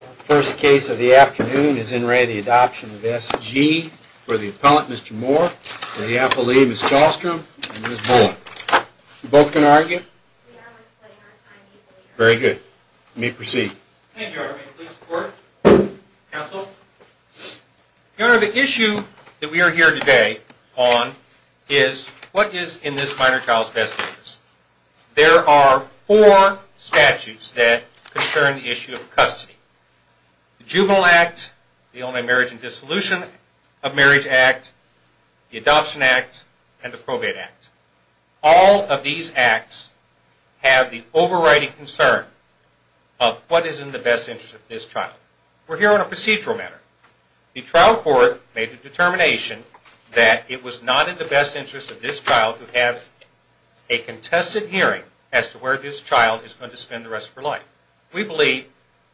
The first case of the afternoon is in re the adoption of S.G. for the appellant Mr. Moore, the appellee Ms. Chalstrom, and Ms. Bullock. You both can argue. Very good. You may proceed. Thank you, Your Honor. May the police report. Counsel. Your Honor, the issue that we are here today on is what is in this minor child's best interest. There are four statutes that concern the issue of custody. The Juvenile Act, the Only Marriage and Dissolution of Marriage Act, the Adoption Act, and the Probate Act. All of these acts have the overriding concern of what is in the best interest of this child. We're here on a procedural matter. The trial court made the determination that it was not in the best interest of this child to have a contested hearing as to where this child is going to spend the rest of her life. We believe,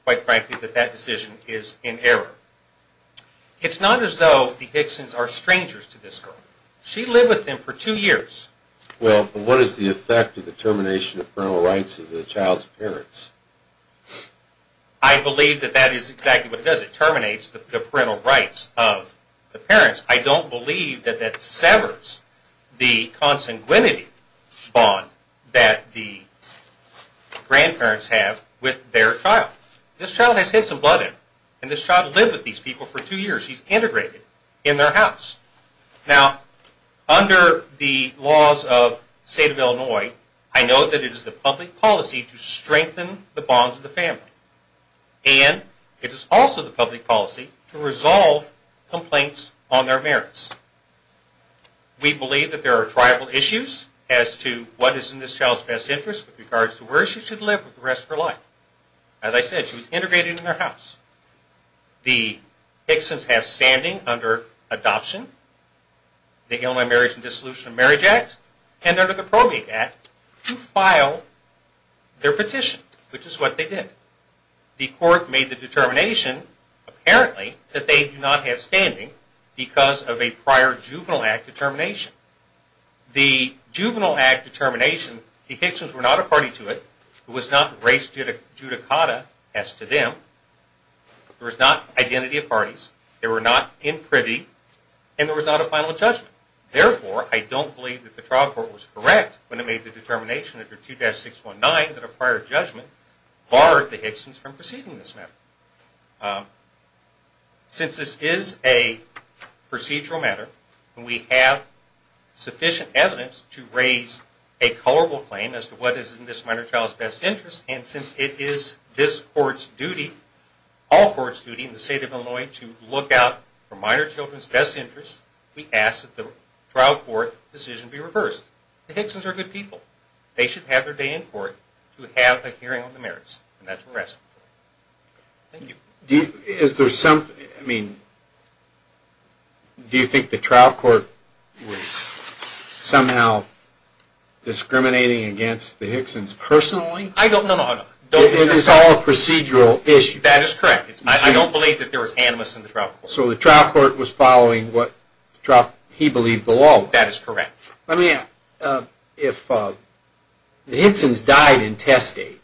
quite frankly, that that decision is in error. It's not as though the Hicksons are strangers to this girl. She lived with them for two years. Well, but what is the effect of the termination of parental rights of the child's parents? I believe that that is exactly what it does. As it terminates the parental rights of the parents, I don't believe that that severs the consanguinity bond that the grandparents have with their child. This child has had some blood in her. And this child lived with these people for two years. She's integrated in their house. Now, under the laws of the state of Illinois, I know that it is the public policy to strengthen the bonds of the family. And it is also the public policy to resolve complaints on their merits. We believe that there are tribal issues as to what is in this child's best interest with regards to where she should live with the rest of her life. As I said, she was integrated in their house. The Hicksons have standing under adoption, the Illinois Marriage and Dissolution of Marriage Act, and under the Probate Act to file their petition, which is what they did. The court made the determination, apparently, that they do not have standing because of a prior juvenile act determination. The juvenile act determination, the Hicksons were not a party to it. It was not race judicata as to them. There was not identity of parties. They were not in privy. And there was not a final judgment. Therefore, I don't believe that the trial court was correct when it made the determination under 2-619 that a prior judgment barred the Hicksons from proceeding this matter. Since this is a procedural matter, and we have sufficient evidence to raise a colorable claim as to what is in this minor child's best interest, and since it is this court's duty, all courts' duty in the state of Illinois to look out for minor children's best interest, we ask that the trial court decision be reversed. The Hicksons are good people. They should have their day in court to have a hearing on the merits. And that's what we're asking for. Thank you. Do you think the trial court was somehow discriminating against the Hicksons personally? I don't know. It is all a procedural issue. That is correct. I don't believe that there was animus in the trial court. So the trial court was following what he believed the law was. That is correct. Let me ask. If the Hicksons died intestate,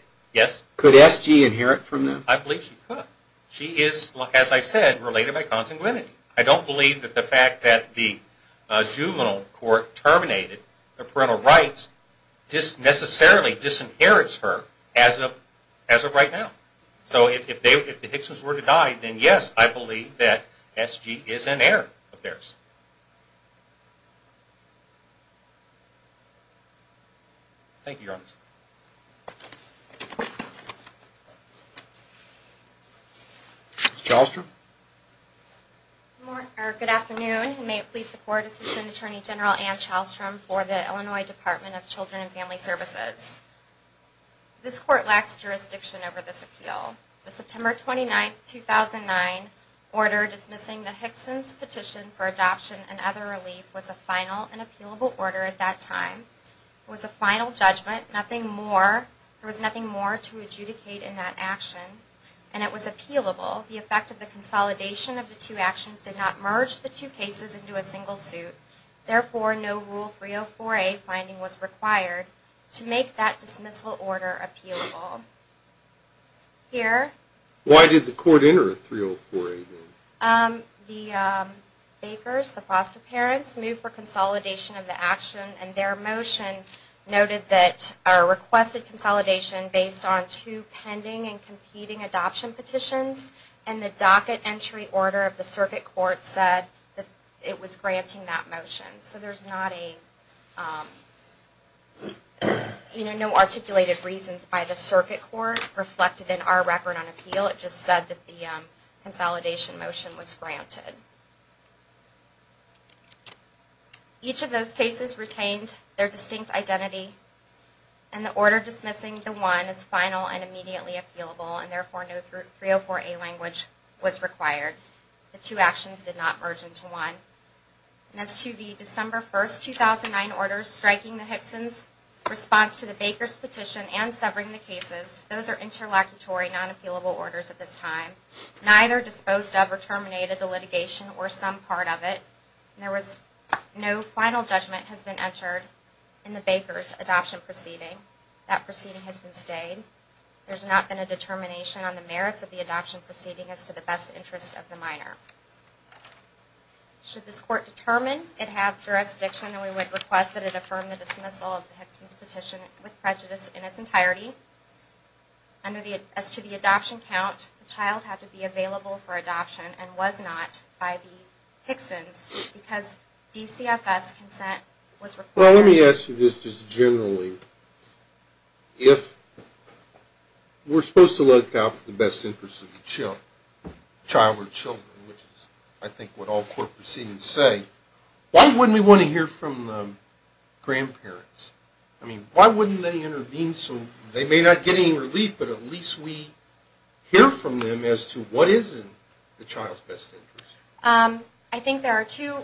could SG inherit from them? I believe she could. She is, as I said, related by consanguinity. I don't believe that the fact that the juvenile court terminated parental rights necessarily disinherits her as of right now. So if the Hicksons were to die, then yes, I believe that SG is an heir of theirs. Thank you, Your Honor. Ms. Chalstrom. Good afternoon. May it please the Court, Assistant Attorney General Anne Chalstrom for the Illinois Department of Children and Family Services. This Court lacks jurisdiction over this appeal. The September 29, 2009 order dismissing the Hicksons petition for adoption and other relief was a final and appealable order at that time. It was a final judgment. There was nothing more to adjudicate in that action, and it was appealable. The effect of the consolidation of the two actions did not merge the two cases into a single suit. Therefore, no Rule 304A finding was required to make that dismissal order appealable. Here. Why did the Court enter a 304A then? The Bakers, the foster parents, moved for consolidation of the action, and their motion noted that our requested consolidation based on two pending and competing adoption petitions, and the docket entry order of the circuit court said that it was granting that motion. So there's not a, you know, no articulated reasons by the circuit court reflected in our record on appeal. It just said that the consolidation motion was granted. Each of those cases retained their distinct identity, and the order dismissing the one is final and immediately appealable, and therefore no 304A language was required. The two actions did not merge into one. And as to the December 1, 2009 orders striking the Hickson's response to the Bakers petition and severing the cases, those are interlocutory, non-appealable orders at this time. Neither disposed of or terminated the litigation or some part of it. There was no final judgment has been entered in the Bakers adoption proceeding. That proceeding has been stayed. There's not been a determination on the merits of the adoption proceeding as to the best interest of the minor. Should this court determine it have jurisdiction, and we would request that it affirm the dismissal of the Hickson's petition with prejudice in its entirety, as to the adoption count, the child had to be available for adoption and was not by the Hickson's because DCFS consent was required. Well, let me ask you this just generally. If we're supposed to look out for the best interest of the child or children, which is I think what all court proceedings say, why wouldn't we want to hear from the grandparents? I mean, why wouldn't they intervene so they may not get any relief, but at least we hear from them as to what is in the child's best interest? I think there are two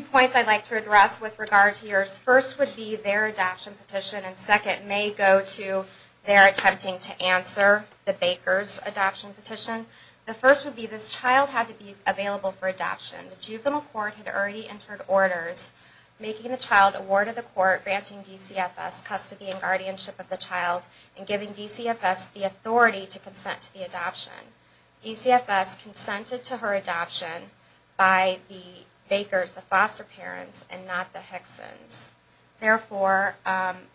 points I'd like to address with regard to yours. The first would be their adoption petition, and second may go to their attempting to answer the Bakers adoption petition. The first would be this child had to be available for adoption. The juvenile court had already entered orders making the child a ward of the court, granting DCFS custody and guardianship of the child, and giving DCFS the authority to consent to the adoption. DCFS consented to her adoption by the Bakers, the foster parents, and not the Hickson's. Therefore,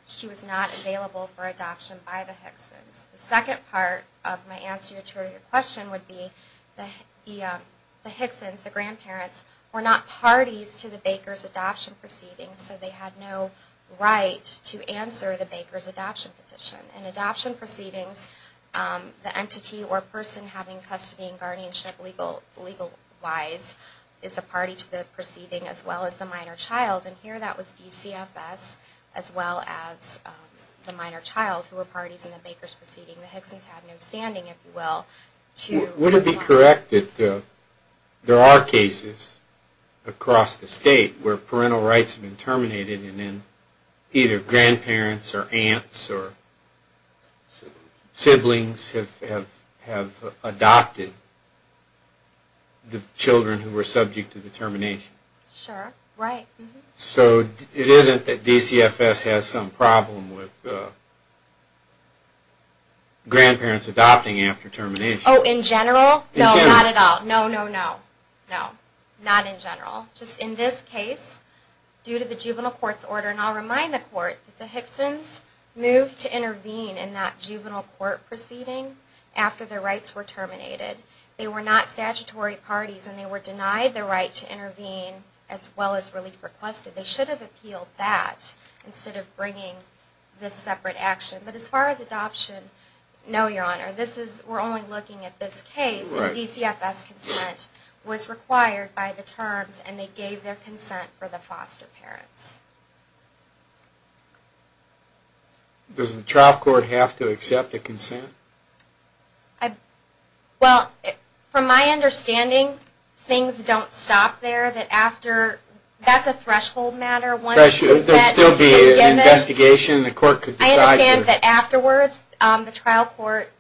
she was not available for adoption by the Hickson's. The second part of my answer to your question would be the Hickson's, the grandparents, were not parties to the Bakers adoption proceedings, so they had no right to answer the Bakers adoption petition. In adoption proceedings, the entity or person having custody and guardianship legal-wise is a party to the proceeding, as well as the minor child, and here that was DCFS, as well as the minor child, who were parties in the Bakers proceeding. The Hickson's had no standing, if you will, to... Would it be correct that there are cases across the state where parental rights have been terminated and then either grandparents or aunts or siblings have adopted the children who were subject to the termination? Sure, right. So it isn't that DCFS has some problem with grandparents adopting after termination? Oh, in general? No, not at all. No, no, no. No, not in general. Just in this case, due to the juvenile court's order, and I'll remind the court that the Hickson's moved to intervene in that juvenile court proceeding after their rights were terminated. They were not statutory parties and they were denied the right to intervene as well as relief requested. They should have appealed that instead of bringing this separate action. But as far as adoption, no, Your Honor. We're only looking at this case, and DCFS consent was required by the terms and they gave their consent for the foster parents. Does the trial court have to accept a consent? Well, from my understanding, things don't stop there. That's a threshold matter. There would still be an investigation and the court could decide to... But afterwards, the trial court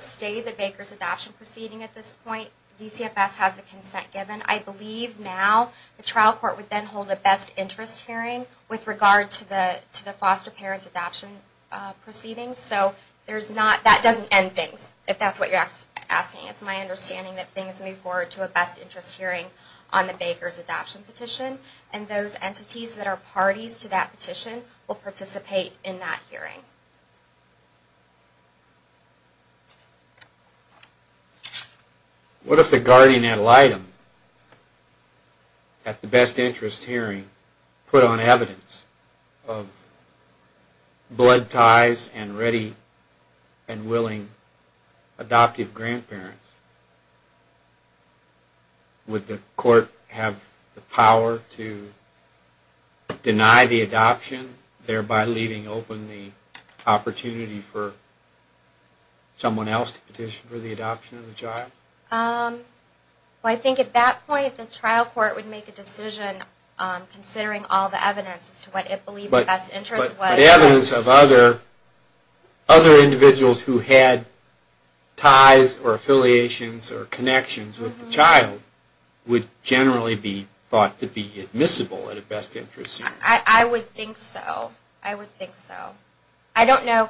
stayed the Baker's adoption proceeding at this point. DCFS has the consent given. I believe now the trial court would then hold a best interest hearing with regard to the foster parents adoption proceedings. So that doesn't end things, if that's what you're asking. It's my understanding that things move forward to a best interest hearing on the Baker's adoption petition. And those entities that are parties to that petition will participate in that hearing. What if the guardian ad litem at the best interest hearing put on evidence of blood ties and ready and willing adoptive grandparents? Would the court have the power to deny the adoption, thereby leaving open the opportunity for someone else to petition for the adoption of the child? I think at that point, the trial court would make a decision, considering all the evidence as to what it believed the best interest was. The evidence of other individuals who had ties or affiliations or connections with the child would generally be thought to be admissible at a best interest hearing. I would think so. I would think so. I don't know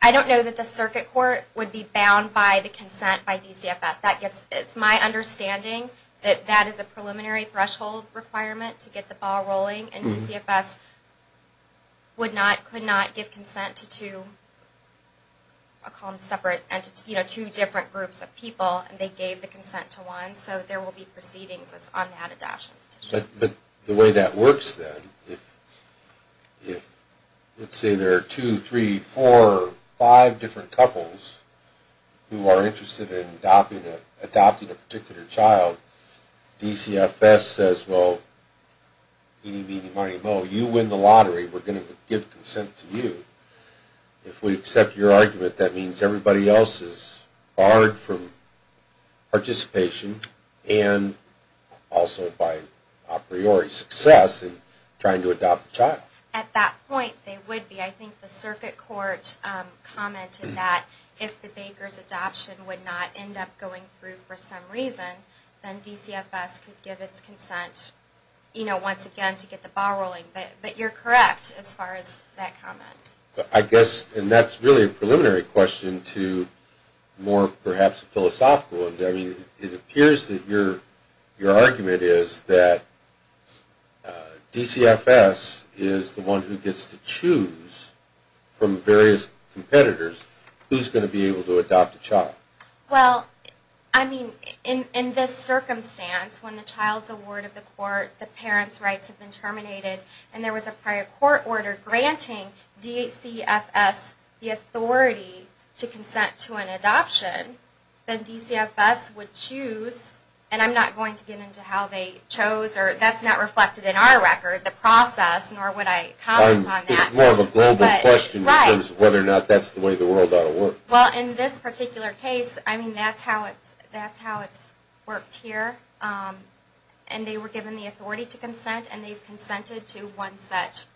that the circuit court would be bound by the consent by DCFS. It's my understanding that that is a preliminary threshold requirement to get the ball rolling. And DCFS could not give consent to two different groups of people, and they gave the consent to one. So there will be proceedings on that adoption petition. But the way that works then, if let's say there are two, three, four, five different couples who are interested in adopting a particular child, and DCFS says, well, you win the lottery, we're going to give consent to you. If we accept your argument, that means everybody else is barred from participation and also by a priori success in trying to adopt a child. At that point, they would be. I think the circuit court commented that if the baker's adoption would not end up going through for some reason, then DCFS could give its consent, you know, once again to get the ball rolling. But you're correct as far as that comment. I guess, and that's really a preliminary question to more perhaps a philosophical one. I mean, it appears that your argument is that DCFS is the one who gets to choose from various competitors who's going to be able to adopt a child. Well, I mean, in this circumstance, when the child's award of the court, the parent's rights have been terminated, and there was a prior court order granting DCFS the authority to consent to an adoption, then DCFS would choose, and I'm not going to get into how they chose, or that's not reflected in our record, the process, nor would I comment on that. It's more of a global question in terms of whether or not that's the way the world ought to work. Well, in this particular case, I mean, that's how it's worked here. And they were given the authority to consent, and they've consented to one set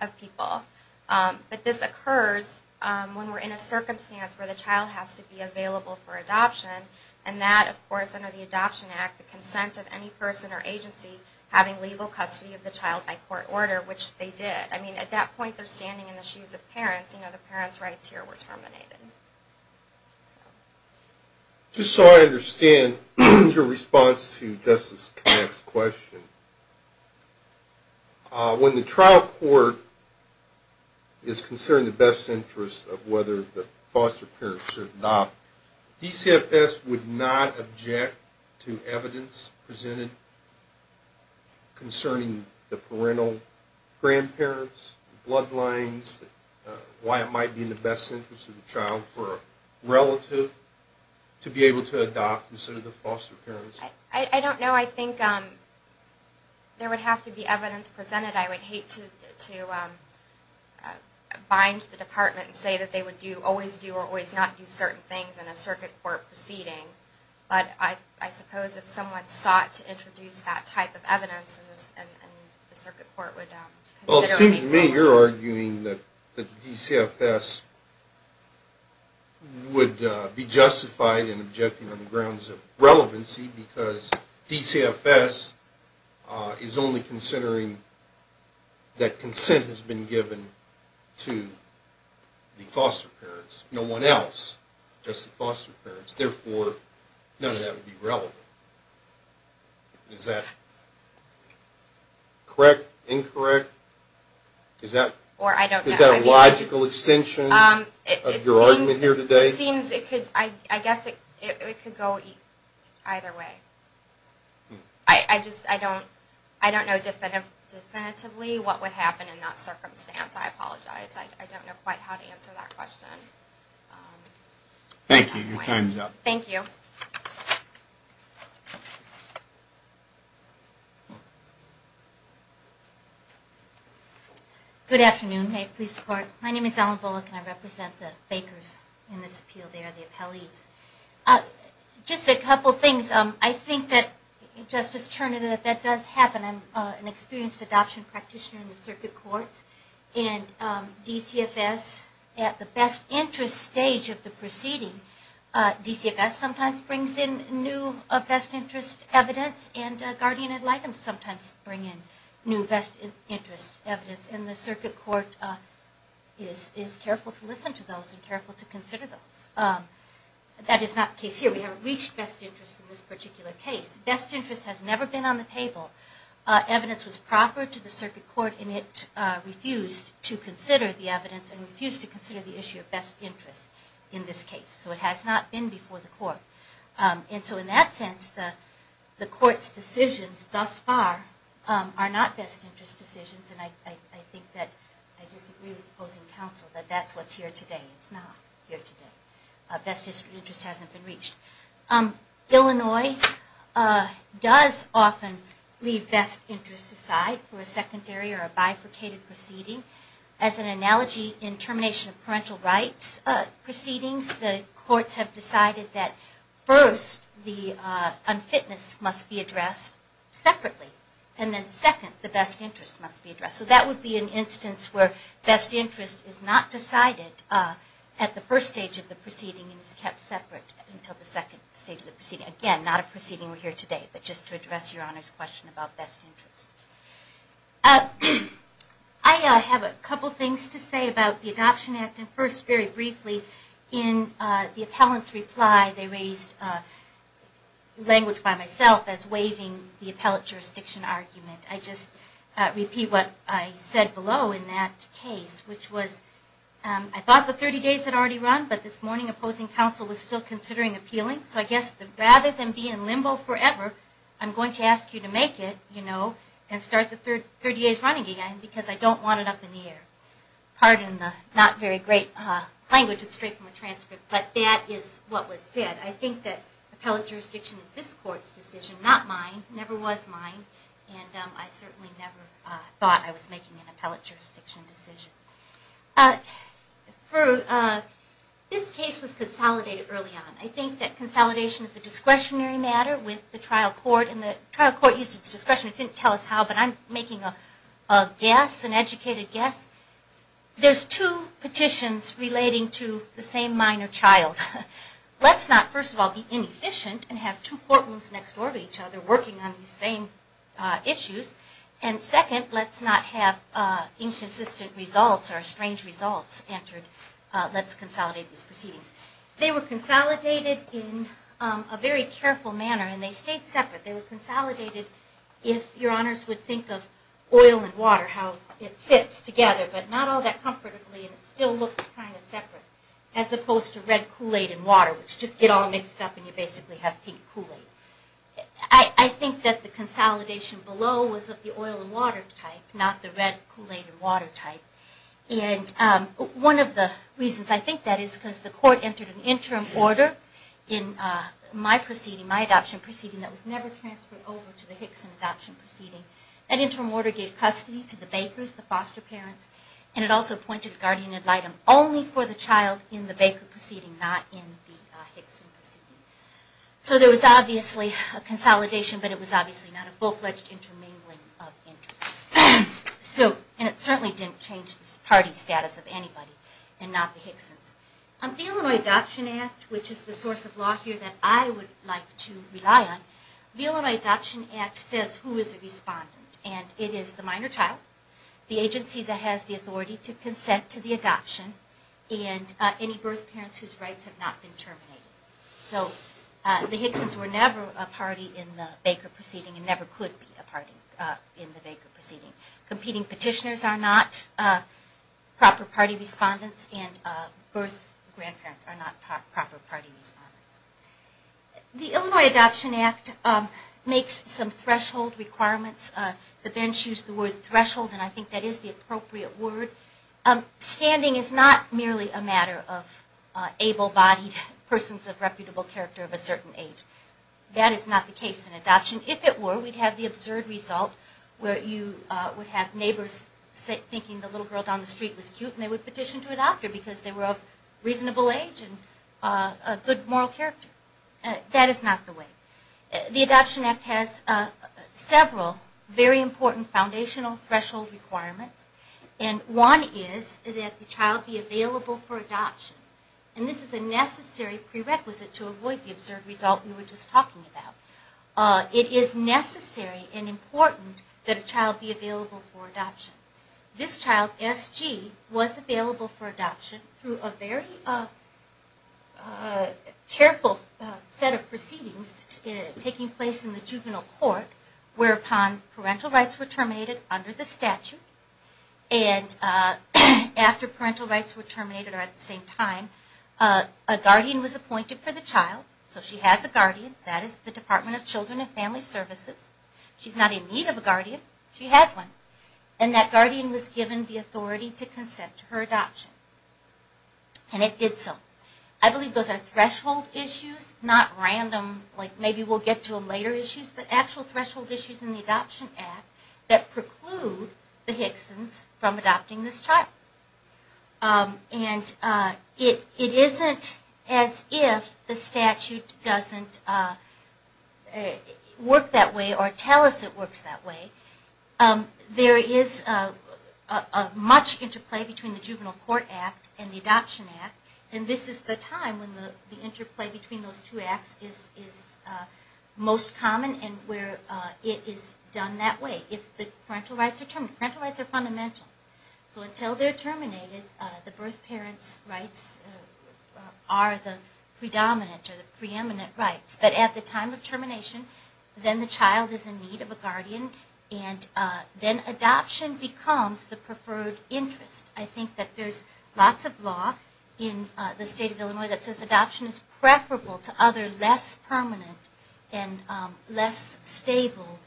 of people. But this occurs when we're in a circumstance where the child has to be available for adoption, and that, of course, under the Adoption Act, the consent of any person or agency having legal custody of the child by court order, which they did. I mean, at that point, they're standing in the shoes of parents. You know, the parent's rights here were terminated. Just so I understand your response to Justice Connick's question, when the trial court is considering the best interest of whether the foster parent should adopt, DCFS would not object to evidence presented concerning the parental grandparents, bloodlines, why it might be in the best interest of the child for a relative to be able to adopt instead of the foster parents? I don't know. I think there would have to be evidence presented. I would hate to bind the department and say that they would always do or always not do certain things in a circuit court proceeding. But I suppose if someone sought to introduce that type of evidence in the circuit court would consider it. Well, it seems to me you're arguing that the DCFS would be justified in objecting on the grounds of relevancy because DCFS is only considering that consent has been given to the foster parents. No one else, just the foster parents. Therefore, none of that would be relevant. Is that correct, incorrect? Is that a logical extension of your argument here today? I guess it could go either way. I don't know definitively what would happen in that circumstance. I apologize. I don't know quite how to answer that question. Thank you. Your time is up. Thank you. Good afternoon. May it please the Court. My name is Ellen Bullock and I represent the Bakers in this appeal. They are the appellees. Just a couple things. I think that, Justice Turner, that that does happen. I'm an experienced adoption practitioner in the circuit courts. And DCFS, at the best interest stage of the proceeding, DCFS sometimes brings in new best interest evidence and guardian ad litem sometimes bring in new best interest evidence. And the circuit court is careful to listen to those and careful to consider those. That is not the case here. We haven't reached best interest in this particular case. Best interest has never been on the table. Evidence was proffered to the circuit court and it refused to consider the evidence and refused to consider the issue of best interest in this case. So it has not been before the court. And so in that sense, the court's decisions thus far are not best interest decisions. And I think that I disagree with opposing counsel that that's what's here today. It's not here today. Best interest hasn't been reached. Illinois does often leave best interest aside for a secondary or a bifurcated proceeding. As an analogy, in termination of parental rights proceedings, the courts have decided that first, the unfitness must be addressed separately. And then second, the best interest must be addressed. So that would be an instance where best interest is not decided at the first stage of the proceeding and is kept separate until the second stage of the proceeding. Again, not a proceeding we're here today, but just to address Your Honor's question about best interest. I have a couple things to say about the Adoption Act. And first, very briefly, in the appellant's reply, they raised language by myself as waiving the appellate jurisdiction argument. I just repeat what I said below in that case, which was I thought the 30 days had already run, but this morning opposing counsel was still considering appealing. So I guess rather than be in limbo forever, I'm going to ask you to make it, you know, and start the 30 days running again because I don't want it up in the air. Pardon the not very great language. It's straight from a transcript. But that is what was said. I think that appellate jurisdiction is this Court's decision, not mine. It never was mine. And I certainly never thought I was making an appellate jurisdiction decision. This case was consolidated early on. I think that consolidation is a discretionary matter with the trial court. And the trial court used its discretion. It didn't tell us how, but I'm making a guess, an educated guess. There's two petitions relating to the same minor child. Let's not, first of all, be inefficient and have two courtrooms next door to each other working on these same issues. And second, let's not have inconsistent results or strange results entered. Let's consolidate these proceedings. They were consolidated in a very careful manner, and they stayed separate. They were consolidated if Your Honors would think of oil and water, how it sits together, but not all that comfortably, and it still looks kind of separate, as opposed to red Kool-Aid and water, which just get all mixed up and you basically have pink Kool-Aid. I think that the consolidation below was of the oil and water type, not the red Kool-Aid and water type. And one of the reasons I think that is because the Court entered an interim order in my adoption proceeding that was never transferred over to the Hickson adoption proceeding. That interim order gave custody to the Bakers, the foster parents, and it also appointed guardian ad litem only for the child in the Baker proceeding, not in the Hickson proceeding. So there was obviously a consolidation, but it was obviously not a full-fledged intermingling of interests. And it certainly didn't change the party status of anybody, and not the Hicksons. The Illinois Adoption Act, which is the source of law here that I would like to rely on, the Illinois Adoption Act says who is a respondent. And it is the minor child, the agency that has the authority to consent to the adoption, and any birth parents whose rights have not been terminated. So the Hicksons were never a party in the Baker proceeding and never could be a party in the Baker proceeding. Competing petitioners are not proper party respondents, and birth grandparents are not proper party respondents. The Illinois Adoption Act makes some threshold requirements. The bench used the word threshold, and I think that is the appropriate word. Standing is not merely a matter of able-bodied persons of reputable character of a certain age. That is not the case in adoption. If it were, we would have the absurd result where you would have neighbors thinking the little girl down the street was cute and they would petition to adopt her because they were of reasonable age and a good moral character. That is not the way. The Adoption Act has several very important foundational threshold requirements. And one is that the child be available for adoption. And this is a necessary prerequisite to avoid the absurd result we were just talking about. It is necessary and important that a child be available for adoption. This child, S.G., was available for adoption through a very careful set of proceedings taking place in the juvenile court whereupon parental rights were terminated under the statute. And after parental rights were terminated or at the same time, a guardian was appointed for the child. So she has a guardian. That is the Department of Children and Family Services. She is not in need of a guardian. She has one. And that guardian was given the authority to consent to her adoption. And it did so. I believe those are threshold issues, not random, like maybe we will get to them later issues, but actual threshold issues in the Adoption Act that preclude the Hicksons from adopting this child. And it isn't as if the statute doesn't work that way or tell us it works that way. There is much interplay between the Juvenile Court Act and the Adoption Act. And this is the time when the interplay between those two acts is most common and where it is done that way if the parental rights are terminated. Parental rights are fundamental. So until they are terminated, the birth parent's rights are the predominant or the preeminent rights. But at the time of termination, then the child is in need of a guardian and then adoption becomes the preferred interest. I think that there is lots of law in the state of Illinois that says adoption is preferable to other less permanent and less stable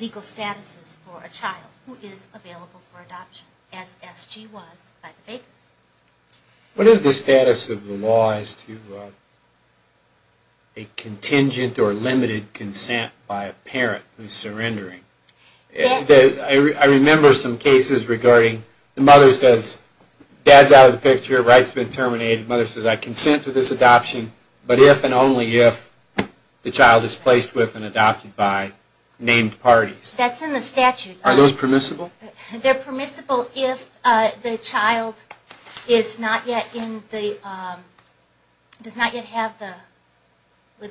legal statuses for a child who is available for adoption as S.G. was by the Bakers. What is the status of the law as to a contingent or limited consent by a parent who is surrendering? I remember some cases regarding the mother says, dad is out of the picture, rights have been terminated, mother says I consent to this adoption, but if and only if the child is placed with and adopted by named parties. That's in the statute. Are those permissible? They are permissible if the child is not yet in the, does not yet have the,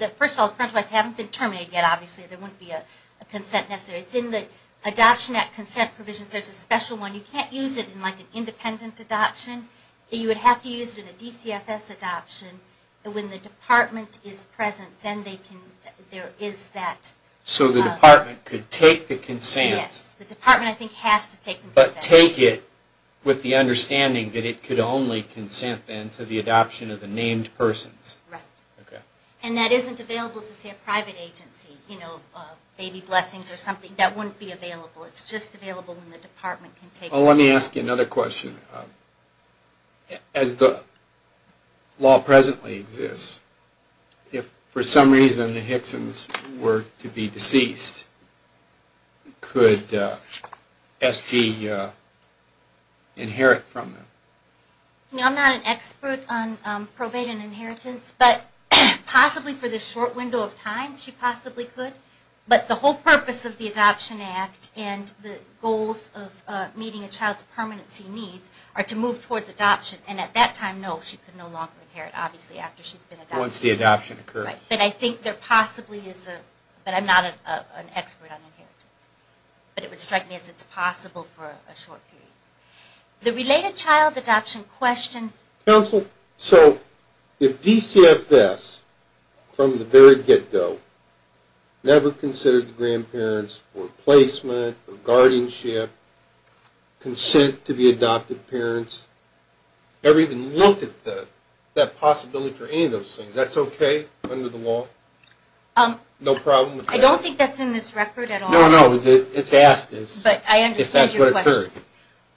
first of all parental rights haven't been terminated yet obviously, there wouldn't be a consent necessary. It's in the Adoption Act consent provisions. There's a special one. You can't use it in like an independent adoption. You would have to use it in a DCFS adoption. When the department is present, then there is that. So the department could take the consent. Yes, the department I think has to take the consent. But take it with the understanding that it could only consent then to the adoption of the named persons. Right. Okay. And that isn't available to say a private agency, you know, Baby Blessings or something, that wouldn't be available. It's just available when the department can take it. Well let me ask you another question. As the law presently exists, if for some reason the Hicksons were to be deceased, could SG inherit from them? You know I'm not an expert on probate and inheritance, but possibly for the short window of time she possibly could. But the whole purpose of the Adoption Act and the goals of meeting a child's permanency needs are to move towards adoption. And at that time, no, she could no longer inherit, obviously after she's been adopted. Once the adoption occurs. Right. But I think there possibly is a, but I'm not an expert on inheritance. But it would strike me as it's possible for a short period. The related child adoption question. Counsel, so if DCFS from the very get-go never considered the grandparents for placement, for guardianship, consent to be adopted parents, never even looked at that possibility for any of those things. That's okay under the law? No problem with that? I don't think that's in this record at all. No, no. It's asked. But I understand your question. If that's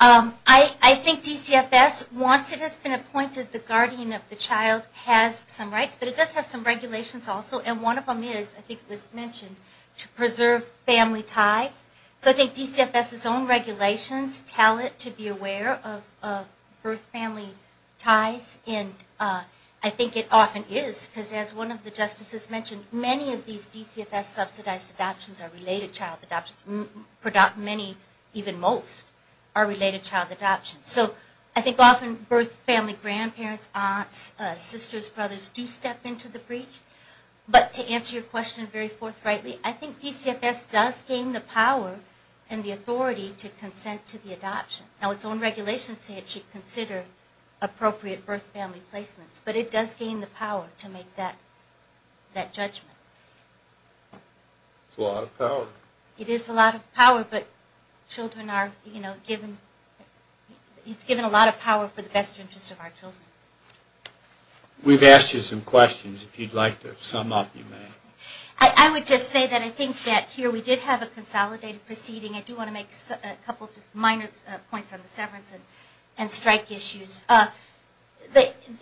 what occurred. I think DCFS, once it has been appointed, the guardian of the child has some rights. But it does have some regulations also. And one of them is, I think it was mentioned, to preserve family ties. So I think DCFS's own regulations tell it to be aware of birth family ties. And I think it often is. Because as one of the justices mentioned, many of these DCFS subsidized adoptions are related child adoptions. Many, even most, are related child adoptions. So I think often birth family grandparents, aunts, sisters, brothers, do step into the breach. But to answer your question very forthrightly, I think DCFS does gain the power and the authority to consent to the adoption. Now its own regulations say it should consider appropriate birth family placements. But it does gain the power to make that judgment. It's a lot of power. It is a lot of power. But children are, you know, given, it's given a lot of power for the best interest of our children. We've asked you some questions. If you'd like to sum up, you may. I would just say that I think that here we did have a consolidated proceeding. I do want to make a couple of just minor points on the severance and strike issues.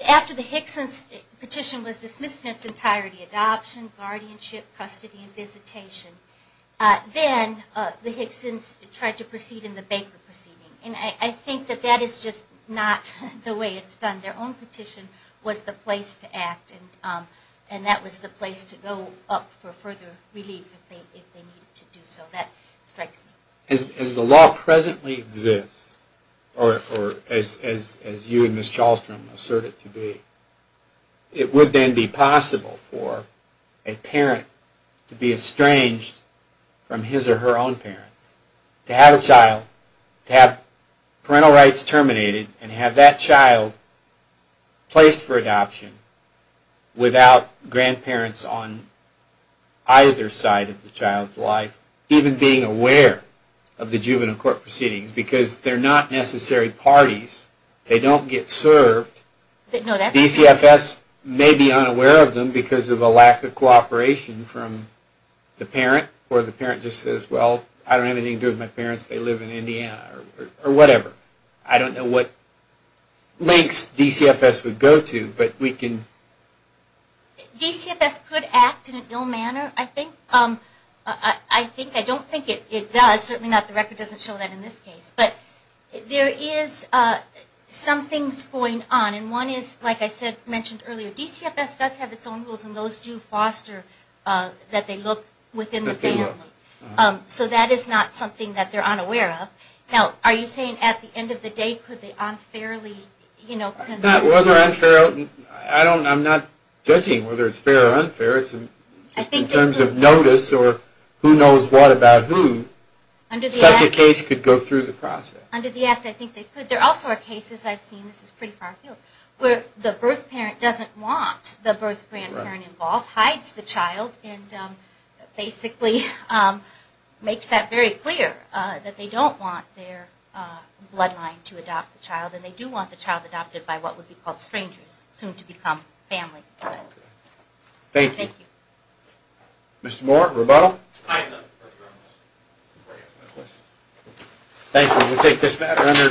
After the Hickson's petition was dismissed in its entirety, adoption, guardianship, custody, and visitation, then the Hickson's tried to proceed in the Baker proceeding. And I think that that is just not the way it's done. Their own petition was the place to act, and that was the place to go up for further relief if they needed to do so. That strikes me. As the law presently exists, or as you and Ms. Chalstrom assert it to be, it would then be possible for a parent to be estranged from his or her own parents. To have a child, to have parental rights terminated, and have that child placed for adoption without grandparents on either side of the child's life. Even being aware of the juvenile court proceedings, because they're not necessary parties. They don't get served. DCFS may be unaware of them because of a lack of cooperation from the parent. Or the parent just says, well, I don't have anything to do with my parents. They live in Indiana, or whatever. I don't know what links DCFS would go to, but we can... DCFS could act in an ill manner, I think. I don't think it does. Certainly not the record doesn't show that in this case. But there is some things going on. And one is, like I mentioned earlier, DCFS does have its own rules, and those do foster that they look within the family. So that is not something that they're unaware of. Now, are you saying at the end of the day, could they unfairly... I'm not judging whether it's fair or unfair. In terms of notice, or who knows what about who, such a case could go through the process. Under the act, I think they could. There also are cases I've seen, this is pretty far afield, where the birth parent doesn't want the birth grandparent involved, hides the child, and basically makes that very clear, that they don't want their bloodline to adopt the child. And they do want the child adopted by what would be called strangers, soon to become family. Thank you. Mr. Moore, rebuttal? Thank you, we take this matter under advisement.